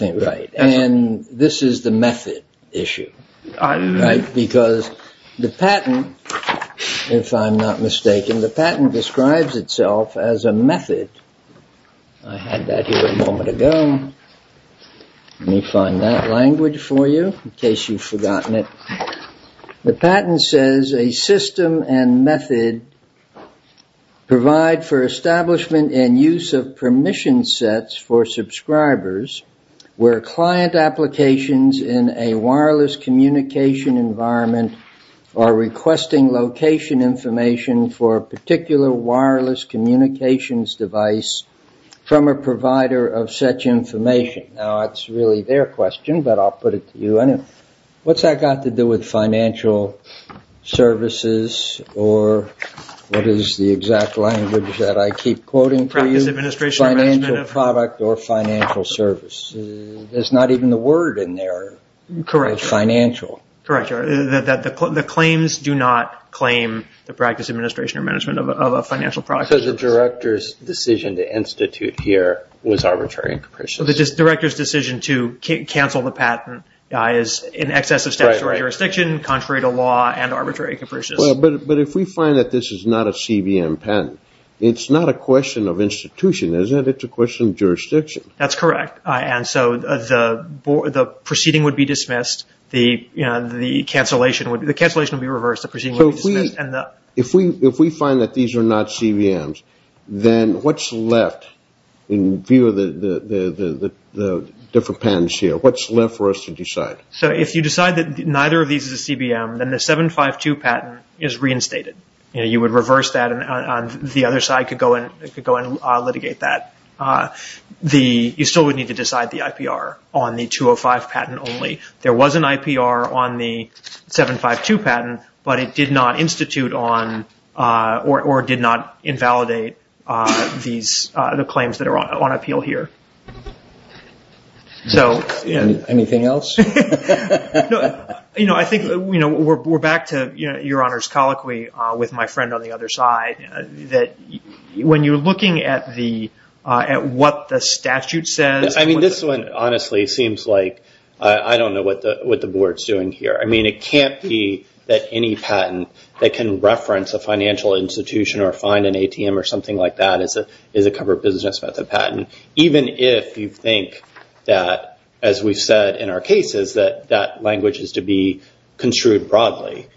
And this is the method issue, right? Because the patent, if I'm not mistaken, the patent describes itself as a method. I had that here a moment ago. Let me find that language for you, in case you've forgotten it. The patent says a system and method provide for establishment and use of permission sets for subscribers where client applications in a wireless communication environment are requesting location information for a particular wireless communications device from a provider of such information. Now, that's really their question, but I'll put it to you. What's that got to do with financial services or what is the exact language that I keep quoting for you? Financial product or financial service. There's not even the word in there for financial. Correct. The claims do not claim the practice, administration, or management of a financial product. So the director's decision to institute here was arbitrary and capricious. The director's decision to cancel the patent is in excess of statutory jurisdiction, contrary to law, and arbitrary and capricious. But if we find that this is not a CBM patent, it's not a question of institution, is it? It's a question of jurisdiction. That's correct. The proceeding would be dismissed. The cancellation would be reversed. If we find that these are not CBMs, then what's left in view of the different patents here? What's left for us to decide? If you decide that neither of these is a CBM, then the 752 patent is reinstated. You would reverse that and the other side could go and litigate that. You still would need to decide the IPR on the 205 patent only. There was an IPR on the 752 patent, but it did not institute or did not invalidate the claims that are on appeal here. Anything else? I think we're back to Your Honor's colloquy with my friend on the other side. When you're looking at what the statute says... This one, honestly, seems like... I don't know what the board's doing here. It can't be that any patent that can reference a financial institution or find an ATM or something like that is a covered business method patent. Even if you think that, as we've said in our cases, that language is to be construed broadly.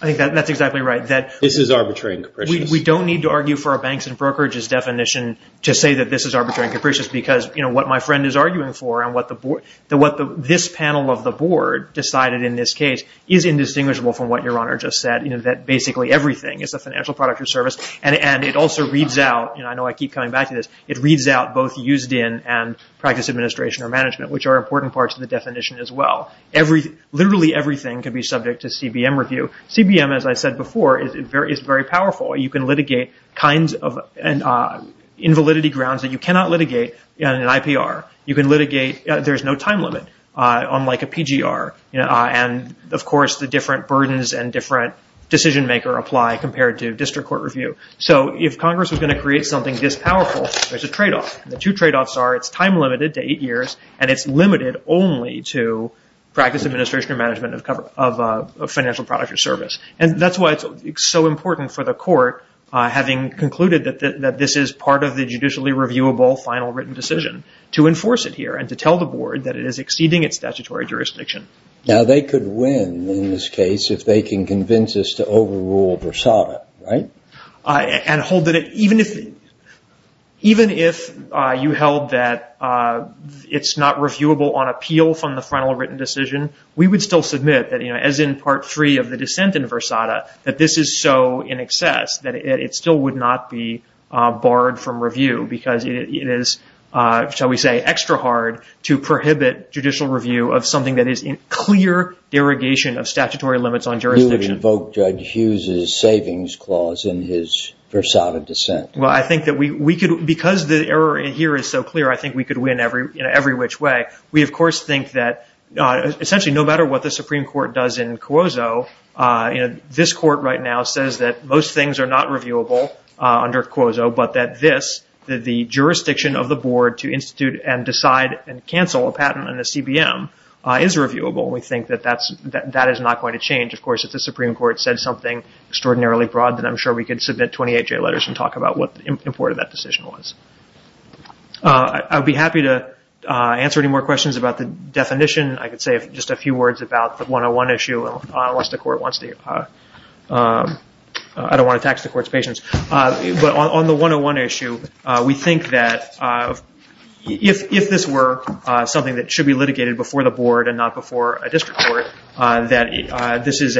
I think that's exactly right. We don't need to argue for our banks and brokerages definition to say that this is arbitrary and capricious because what my friend is arguing for and what this panel of the board decided in this case is indistinguishable from what Your Honor just said, that basically everything is a financial product or service. I know I keep coming back to this. It reads out both used-in and practice administration or management, which are important parts of the definition as well. Literally everything can be subject to CBM review. CBM, as I said before, is very powerful. You can litigate kinds of invalidity grounds that you cannot litigate in an IPR. You can litigate... There's no time limit, unlike a PGR. And, of course, the different burdens and different decision-maker apply compared to district court review. So if Congress was going to create something this powerful, there's a trade-off. The two trade-offs are it's time-limited to eight years and it's limited only to practice administration or management of a financial product or service. And that's why it's so important for the court, having concluded that this is part of the judicially reviewable final written decision, to enforce it here and to tell the board that it is exceeding its statutory jurisdiction. Now, they could win in this case if they can convince us to overrule Versada, right? And hold it... Even if you held that it's not reviewable on appeal from the final written decision, we would still submit that, as in Part 3 of the dissent in Versada, that this is so in excess that it still would not be barred from review because it is, shall we say, extra hard to prohibit judicial review of something that is in clear derogation of statutory limits on jurisdiction. You would invoke Judge Hughes' savings clause in his Versada dissent. Well, I think that we could... Because the error here is so clear, I think we could win in every which way. We, of course, think that, essentially, no matter what the Supreme Court does in Cuozo, this court right now says that most things are not reviewable under Cuozo, but that this, the jurisdiction of the board to institute and decide and cancel a patent on the CBM is reviewable. We think that that is not going to change. Of course, if the Supreme Court said something extraordinarily broad, then I'm sure we could submit 28-J letters and talk about what important that decision was. I'd be happy to answer any more questions about the definition. I could say just a few words about the 101 issue, unless the court wants to... I don't want to tax the court's patience. On the 101 issue, we think that if this were something that should be litigated before the board and not before a district court, that this is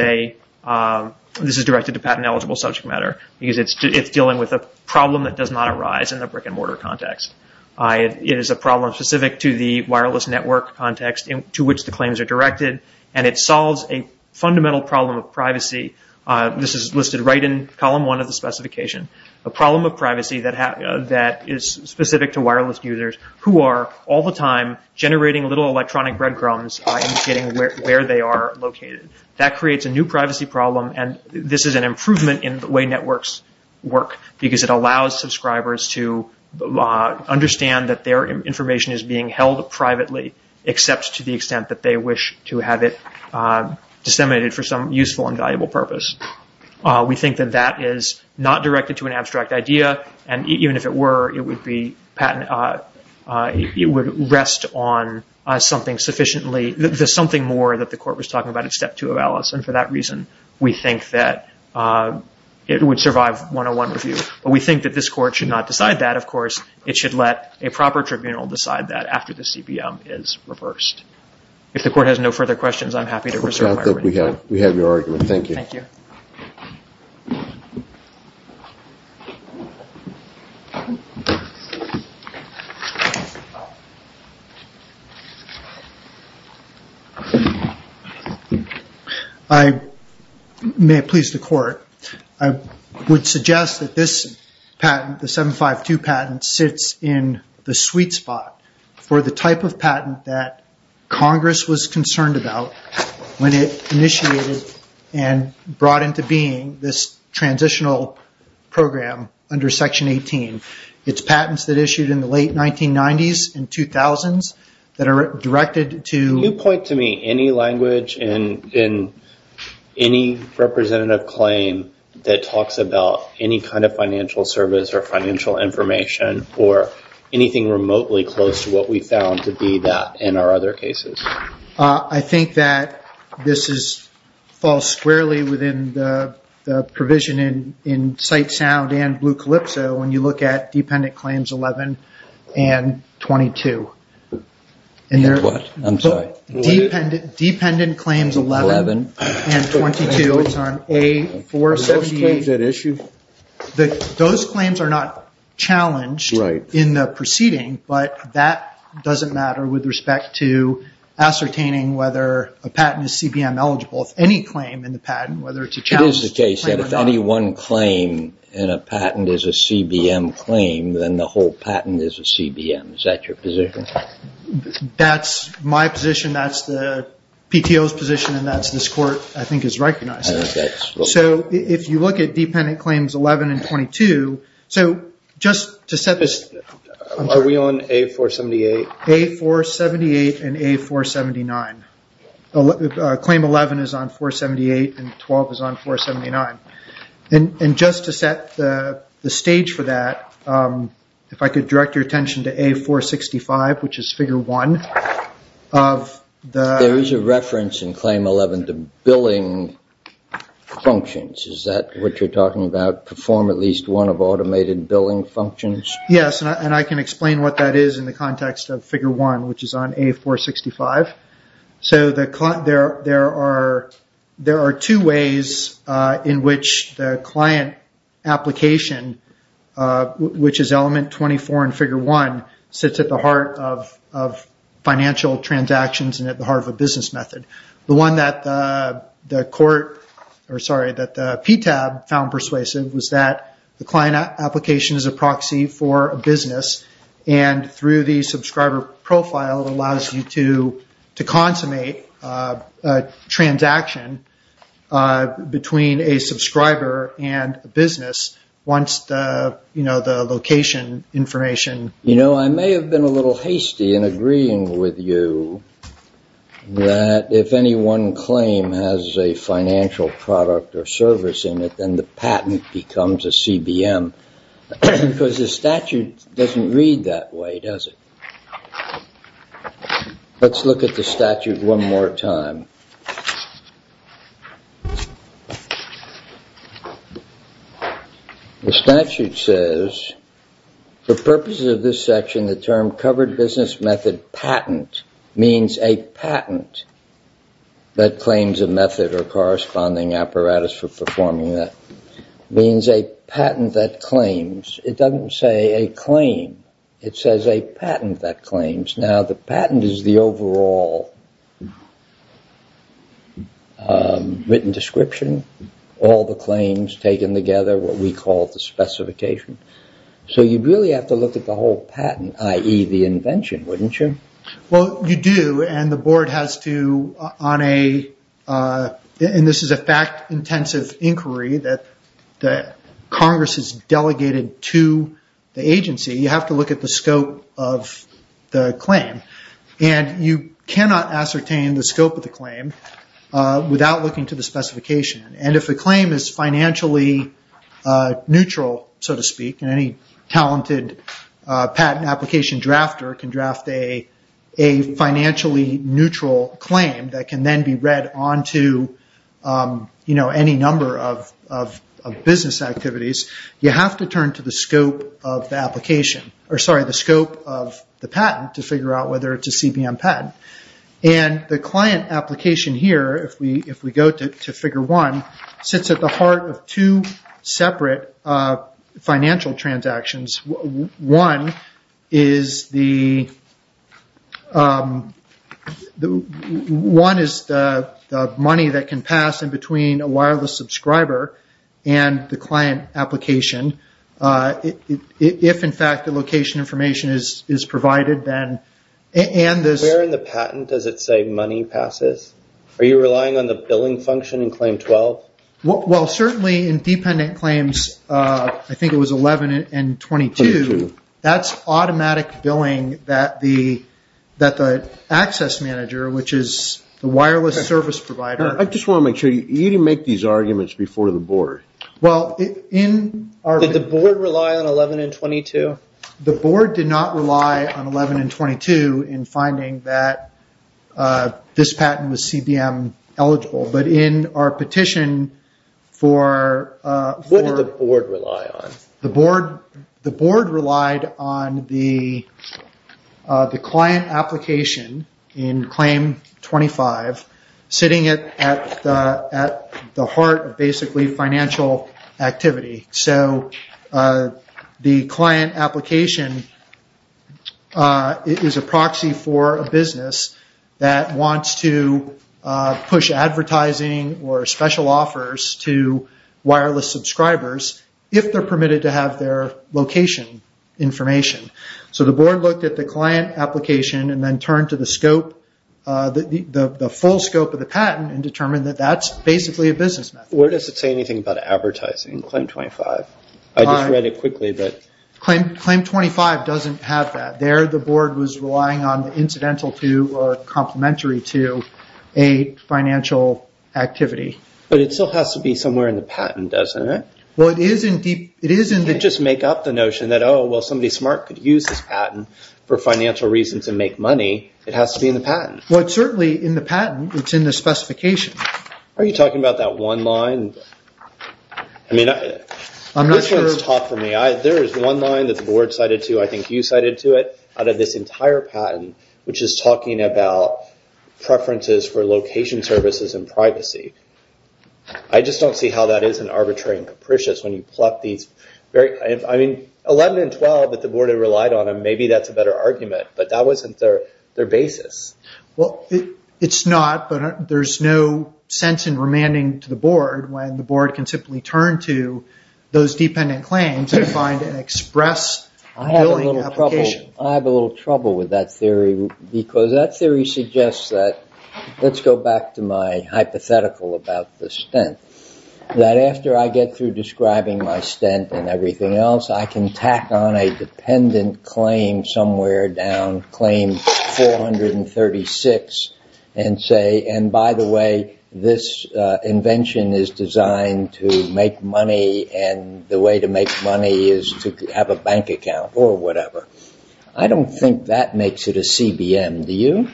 directed to patent-eligible subject matter because it's dealing with a problem that does not arise in the brick-and-mortar context. It is a problem specific to the wireless network context to which the claims are directed, and it solves a fundamental problem of privacy. This is listed right in column 1 of the specification. A problem of privacy that is specific to wireless users who are all the time generating little electronic breadcrumbs indicating where they are located. That creates a new privacy problem, and this is an improvement in the way networks work because it allows subscribers to understand that their information is being held privately, except to the extent that they wish to have it disseminated for some useful and valuable purpose. We think that that is not directed to an abstract idea, and even if it were, it would rest on something more that the court was talking about in step 2 of ALICE, and for that reason we think that it would survive 101 review. But we think that this court should not decide that, of course. It should let a proper tribunal decide that after the CBM is reversed. If the court has no further questions, I am happy to reserve my remaining time. We have your argument. Thank you. May it please the court, I would suggest that this patent, the 752 patent, sits in the sweet spot for the type of patent that Congress was concerned about when it initiated and brought into being this transitional program under Section 18. It's patents that issued in the late 1990s and 2000s that are directed to... Can you point to me any language in any representative claim that talks about any kind of financial service or financial information or anything remotely close to what we found to be that in our other cases? I think that this falls squarely within the provision in Cite Sound and Blue Calypso when you look at dependent claims 11 and 22. Dependent claims 11 and 22. Are those claims at issue? Those claims are not challenged in the proceeding, but that doesn't matter with respect to ascertaining whether a patent is CBM eligible. It is the case that if any one claim in a patent is a CBM claim, then the whole patent is a CBM. Is that your position? That's my position, that's the PTO's position and that's what this court has recognized. If you look at dependent claims 11 and 22... Are we on A478? A478 and A479. Claim 11 is on 478 and 12 is on 479. Just to set the stage for that, if I could direct your attention to A465, which is figure 1. There is a reference in claim 11 to billing functions. Is that what you're talking about? Perform at least one of automated billing functions? Yes, and I can explain what that is in the context of figure 1, which is on A465. There are two ways in which the client application, which is element 24 in figure 1, sits at the heart of financial transactions and at the heart of a business method. The one that the PTAB found persuasive was that the client application is a proxy for a business and through the subscriber profile it allows you to consummate a transaction between a subscriber and a business once the location information... You know, I may have been a little hasty in agreeing with you that if any one claim has a financial product or service in it, then the patent becomes a CBM because the statute doesn't read that way, does it? Let's look at the statute one more time. The statute says for purposes of this section the term covered business method patent means a patent that claims a method or corresponding apparatus for performing that. It means a patent that claims. It doesn't say a claim. It says a patent that claims. Now the patent is the overall written description. All the claims taken together what we call the specification. So you really have to look at the whole patent, i.e. the invention, wouldn't you? Well, you do and the board has to on a... and this is a fact-intensive inquiry that Congress has delegated to the agency you have to look at the scope of the claim and you cannot ascertain the scope of the claim without looking to the specification and if the claim is financially neutral so to speak and any talented patent application drafter can draft a financially neutral claim that can then be read onto any number of business activities you have to turn to the scope of the patent to figure out whether it's a CBM patent and the client application here if we go to figure one sits at the heart of two separate financial transactions one is the money that can pass in between a wireless subscriber and the client application if in fact the location information is provided then Where in the patent does it say money passes? Are you relying on the billing function in claim 12? Well, certainly in dependent claims I think it was 11 and 22 that's automatic billing that the access manager which is the wireless service provider I just want to make sure you didn't make these arguments before the board Did the board rely on 11 and 22? The board did not rely on 11 and 22 in finding that this patent was CBM eligible but in our petition What did the board rely on? The board relied on the client application in claim 25 sitting at the heart of basically financial activity The client application is a proxy for a business that wants to push advertising or special offers to wireless subscribers if they're permitted to have their location information So the board looked at the client application and then turned to the full scope of the patent and determined that that's basically a business method Where does it say anything about advertising in claim 25? I just read it quickly Claim 25 doesn't have that There the board was relying on the incidental to or complementary to a financial activity But it still has to be somewhere in the patent doesn't it? You can't just make up the notion that somebody smart could use this patent for financial reasons and make money. It has to be in the patent It's certainly in the patent. It's in the specification Are you talking about that one line? There is one line that the board cited to I think you cited to it preferences for location services and privacy I just don't see how that isn't arbitrary and capricious when you pluck these 11 and 12 that the board relied on, maybe that's a better argument but that wasn't their basis It's not, but there's no sense in remanding to the board when the board can simply turn to those dependent claims and find an express billing application I have a little trouble with that theory because that theory suggests that let's go back to my hypothetical about the stint that after I get through describing my stint and everything else I can tack on a dependent claim somewhere down claim 436 and say and by the way this invention is designed to make money and the way to make money is to have a bank account or whatever. I don't think that makes it a CBM do you?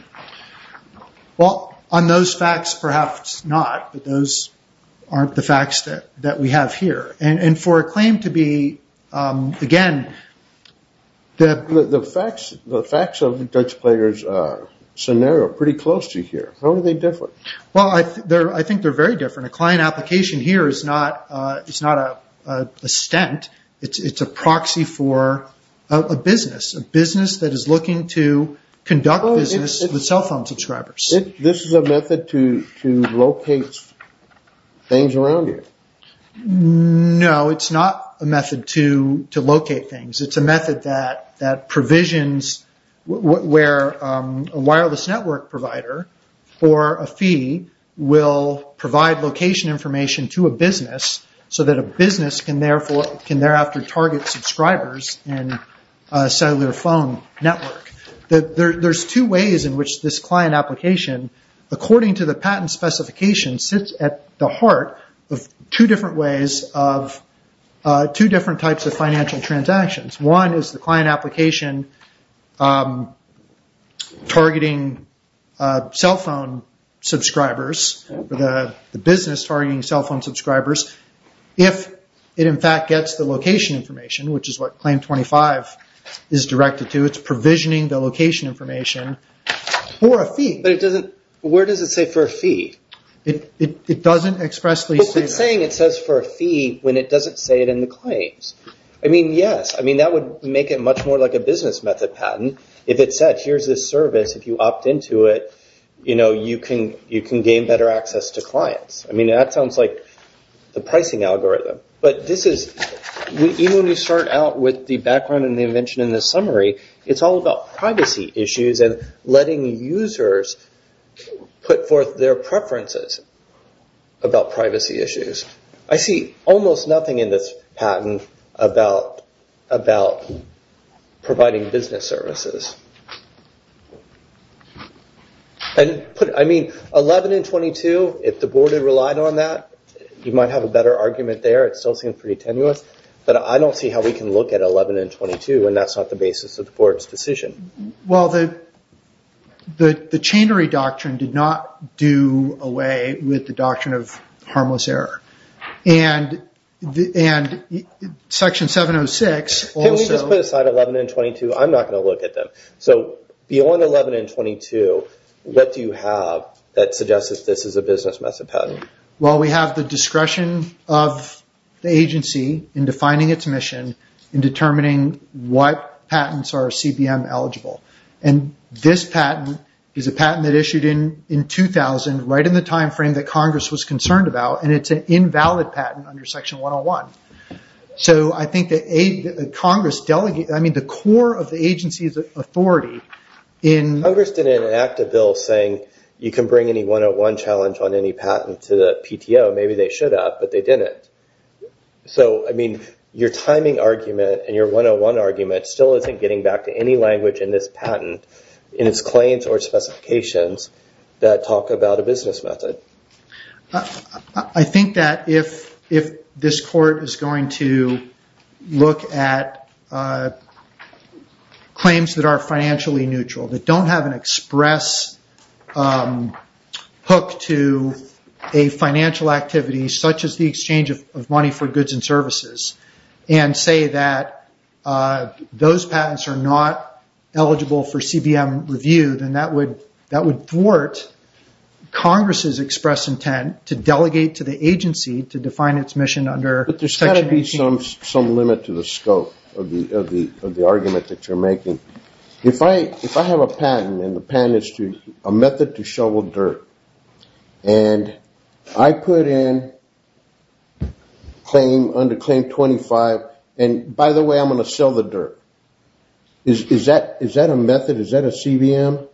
On those facts perhaps not but those aren't the facts that we have here and for a claim to be again The facts of the Dutch players scenario are pretty close to here How are they different? I think they are very different. A client application here is not a stint. It's a proxy for a business that is looking to conduct business with cell phone subscribers This is a method to locate things around you? No, it's not a method to locate things It's a method that provisions where a wireless network provider for a fee will provide location information to a business so that a business can thereafter target subscribers in a cellular phone network There's two ways in which this client application according to the patent specifications sits at the heart of two different ways of two different types of financial transactions One is the client application targeting cell phone subscribers if it in fact gets the location information which is what claim 25 is directed to it's provisioning the location information for a fee Where does it say for a fee? It doesn't expressly say that It says for a fee when it doesn't say it in the claims That would make it much more like a business method patent If it said, here's this service, if you opt into it you can gain better access to clients That sounds like the pricing algorithm Even when you start out with the background and the invention and the summary it's all about privacy issues and letting users put forth their preferences about privacy issues I see almost nothing in this patent about providing business services I mean, 11 and 22 if the board had relied on that you might have a better argument there but I don't see how we can look at 11 and 22 and that's not the basis of the board's decision The Chainery Doctrine did not do away with the doctrine of harmless error And Section 706 Can we just put aside 11 and 22? I'm not going to look at them Beyond 11 and 22, what do you have that suggests that this is a business method patent? We have the discretion of the agency in defining its mission in determining what patents are CBM eligible This patent is a patent that issued in 2000 right in the time frame that Congress was concerned about and it's an invalid patent under Section 101 The core of the agency's authority Congress didn't enact a bill saying you can bring any 101 challenge on any patent to the PTO Maybe they should have, but they didn't Your timing argument and your 101 argument still isn't getting back to any language in this patent in its claims or specifications that talk about a business method I think that if this court is going to look at claims that are financially neutral that don't have an express hook to a financial activity such as the exchange of money for goods and services and say that those patents are not eligible for CBM review, then that would thwart Congress' express intent to delegate to the agency to define its mission under There's got to be some limit to the scope of the argument that you're making If I have a patent and the patent is to a method to shovel dirt and I put in claim under claim 25 and by the way I'm going to sell the dirt Is that a method? Is that a CBM?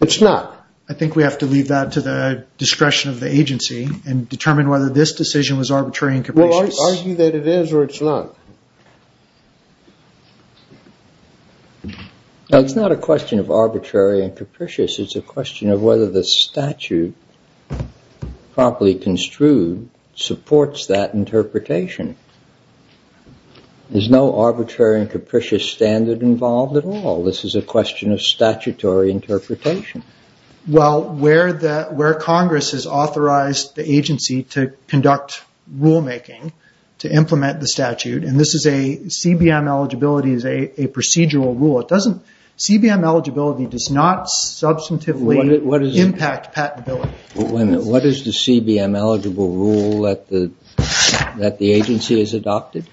It's not. I think we have to leave that to the discretion of the agency and determine whether this decision was arbitrary and capricious Argue that it is or it's not It's not a question of arbitrary and capricious. It's a question of whether the statute properly construed supports that interpretation There's no arbitrary and capricious standard involved at all. This is a question of statutory interpretation Congress has authorized the agency to conduct rulemaking to implement the statute and CBM eligibility is a procedural rule. CBM eligibility does not substantively impact patentability What is the CBM eligible rule that the agency has adopted?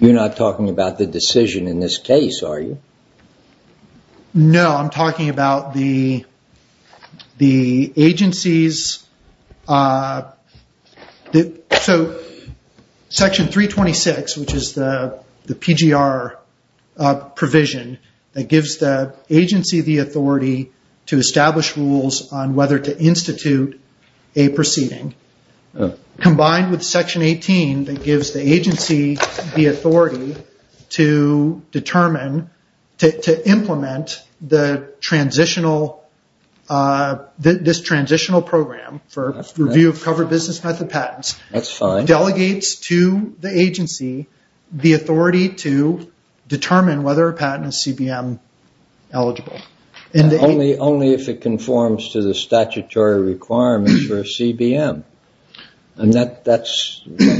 You're not talking about the decision in this case, are you? No, I'm talking about the agency's Section 326 which is the PGR provision that gives the agency the authority to establish rules on whether to institute a proceeding combined with Section 18 that gives the agency the authority to determine to implement the transitional program for review of covered business method patents delegates to the agency the authority to determine whether a patent is CBM eligible Only if it conforms to the statutory requirement for a CBM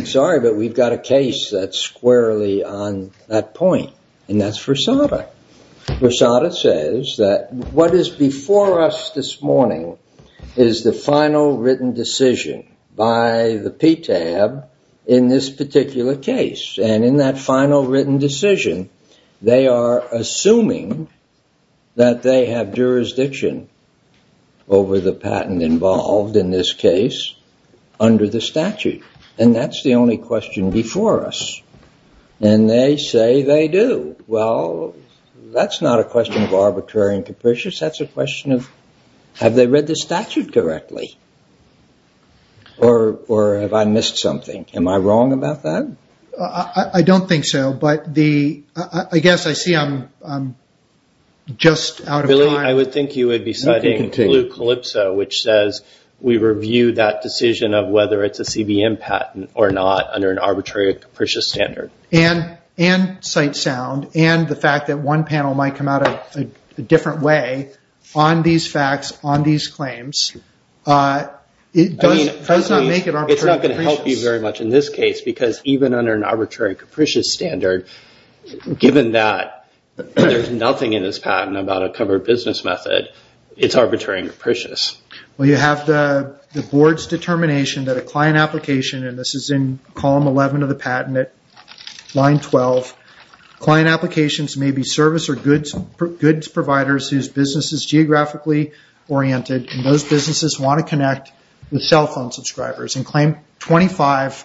Sorry, but we've got a case that's squarely on that point and that's Rosada. Rosada says that what is before us this morning is the final written decision by the PTAB in this particular case and in that final written decision they are assuming that they have jurisdiction over the patent involved in this case under the statute and that's the only question before us and they say they do. Well that's not a question of arbitrary and capricious that's a question of have they read the statute correctly? Or have I missed something? Am I wrong about that? I don't think so, but I guess I see I'm just out of time I would think you would be citing blue calypso which says we review that decision of whether it's a CBM patent or not under an arbitrary and capricious standard and sight sound and the fact that one panel might come out a different way on these facts, on these claims it does not make it arbitrary and capricious It's not going to help you very much in this case because even under an arbitrary and capricious standard, given that there's nothing in this patent about a covered business method it's arbitrary and capricious Well you have the board's determination that a client application and this is in column 11 of the patent line 12, client applications may be service or goods providers whose business is geographically oriented and those businesses want to connect with cell phone subscribers and claim 25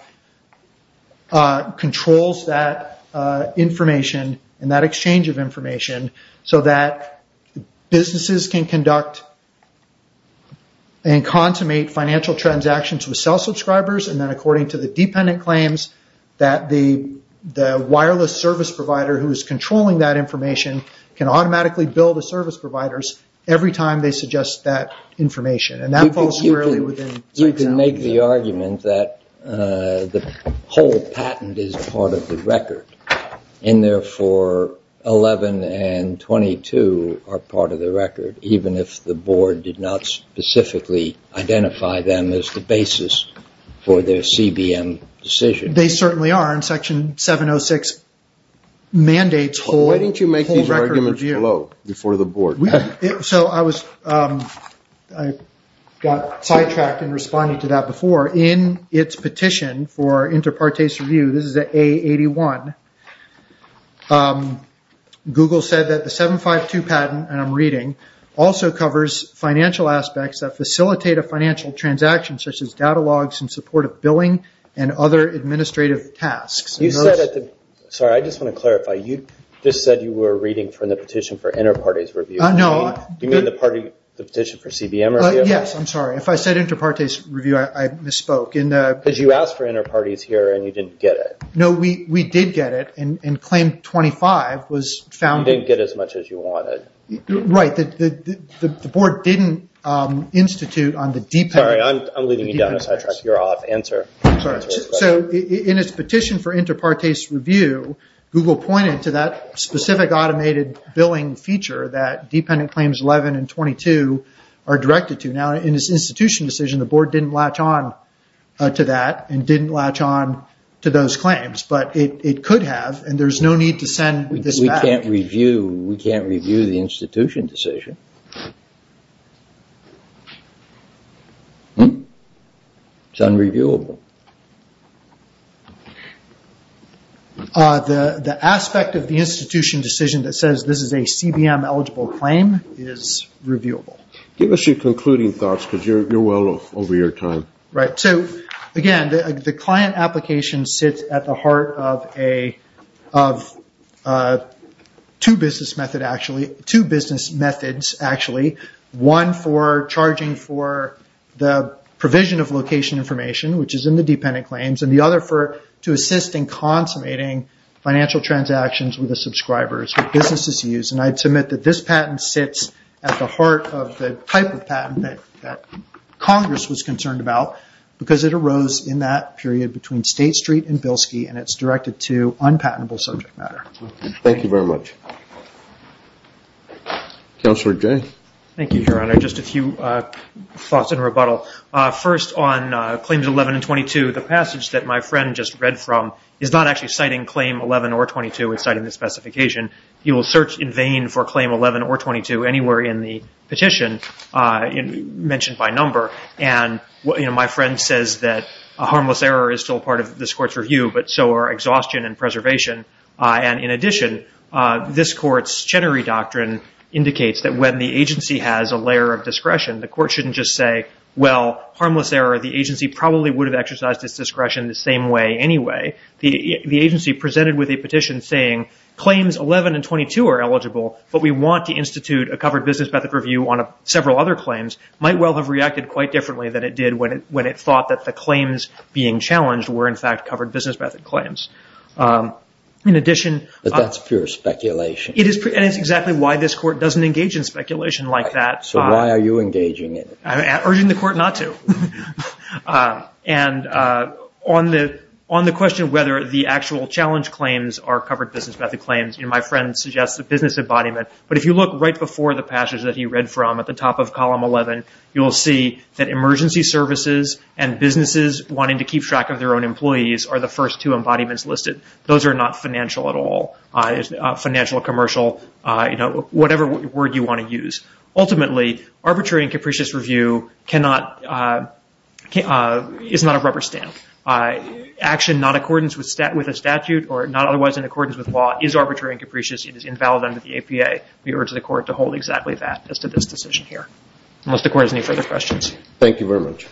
controls that information and that exchange of information so that businesses can conduct and consummate financial transactions with cell subscribers and then according to the dependent claims that the wireless service provider who is controlling that information can automatically bill the service providers every time they suggest that information You can make the argument that the whole patent is part of the record and therefore 11 and 22 are part of the record even if the board did not specifically identify them as the basis for their CBM decision. They certainly are in section 706 mandates Why don't you make these arguments below before the board So I was got sidetracked in responding to that before in its petition for inter partes review Google said that the 752 patent and I'm reading also covers financial aspects that facilitate a financial transaction such as data logs in support of billing and other administrative tasks Sorry, I just want to clarify. You just said you were reading from the petition for inter partes review You mean the petition for CBM review? Yes, I'm sorry. If I said inter partes review, I misspoke Because you asked for inter partes here and you didn't get it No, we did get it and claim 25 You didn't get as much as you wanted Right, the board didn't institute Sorry, I'm leading you down a sidetrack here. I'll have to answer So in its petition for inter partes review, Google pointed to that specific automated billing feature that dependent claims 11 and 22 are directed to Now in its institution decision, the board didn't latch on to that and didn't latch on to those claims But it could have and there's no need to send this back We can't review the institution decision It's unreviewable The aspect of the institution decision that says this is a CBM eligible claim is reviewable Give us your concluding thoughts because you're well over your time Again, the client application sits at the heart of two business methods One for charging for the provision of location information which is in the dependent claims and the other for to assist in consummating financial transactions with the subscribers with businesses used and I'd submit that this patent sits at the heart of the type of patent that Congress was concerned about because it arose in that period between State Street and Bilski and it's directed to unpatentable subject matter First on claims 11 and 22, the passage that my friend just read from is not actually citing claim 11 or 22, it's citing the specification You will search in vain for claim 11 or 22 anywhere in the petition mentioned by number and my friend says that a harmless error is still part of this court's review but so are exhaustion and preservation In addition, this court's Chenery Doctrine indicates that when the agency has a layer of discretion the court shouldn't just say, well, harmless error the agency probably would have exercised its discretion the same way anyway The agency presented with a petition saying claims 11 and 22 are eligible but we want to institute a covered business method review on several other claims might well have reacted quite differently than it did when it thought that the claims being challenged were in fact covered business method claims But that's pure speculation It is and it's exactly why this court doesn't engage in speculation like that So why are you engaging in it? I'm urging the court not to On the question of whether the actual challenge claims are covered business method claims, my friend suggests the business embodiment But if you look right before the passage that he read from at the top of column 11 you will see that emergency services and businesses wanting to keep track of their own employees are the first two embodiments listed. Those are not financial at all Financial, commercial, whatever word you want to use Ultimately, arbitrary and capricious review is not a rubber stamp Action not in accordance with a statute or not otherwise in accordance with law is arbitrary and capricious It is invalid under the APA. We urge the court to hold exactly that as to this decision here. Unless the court has any further questions Thank you very much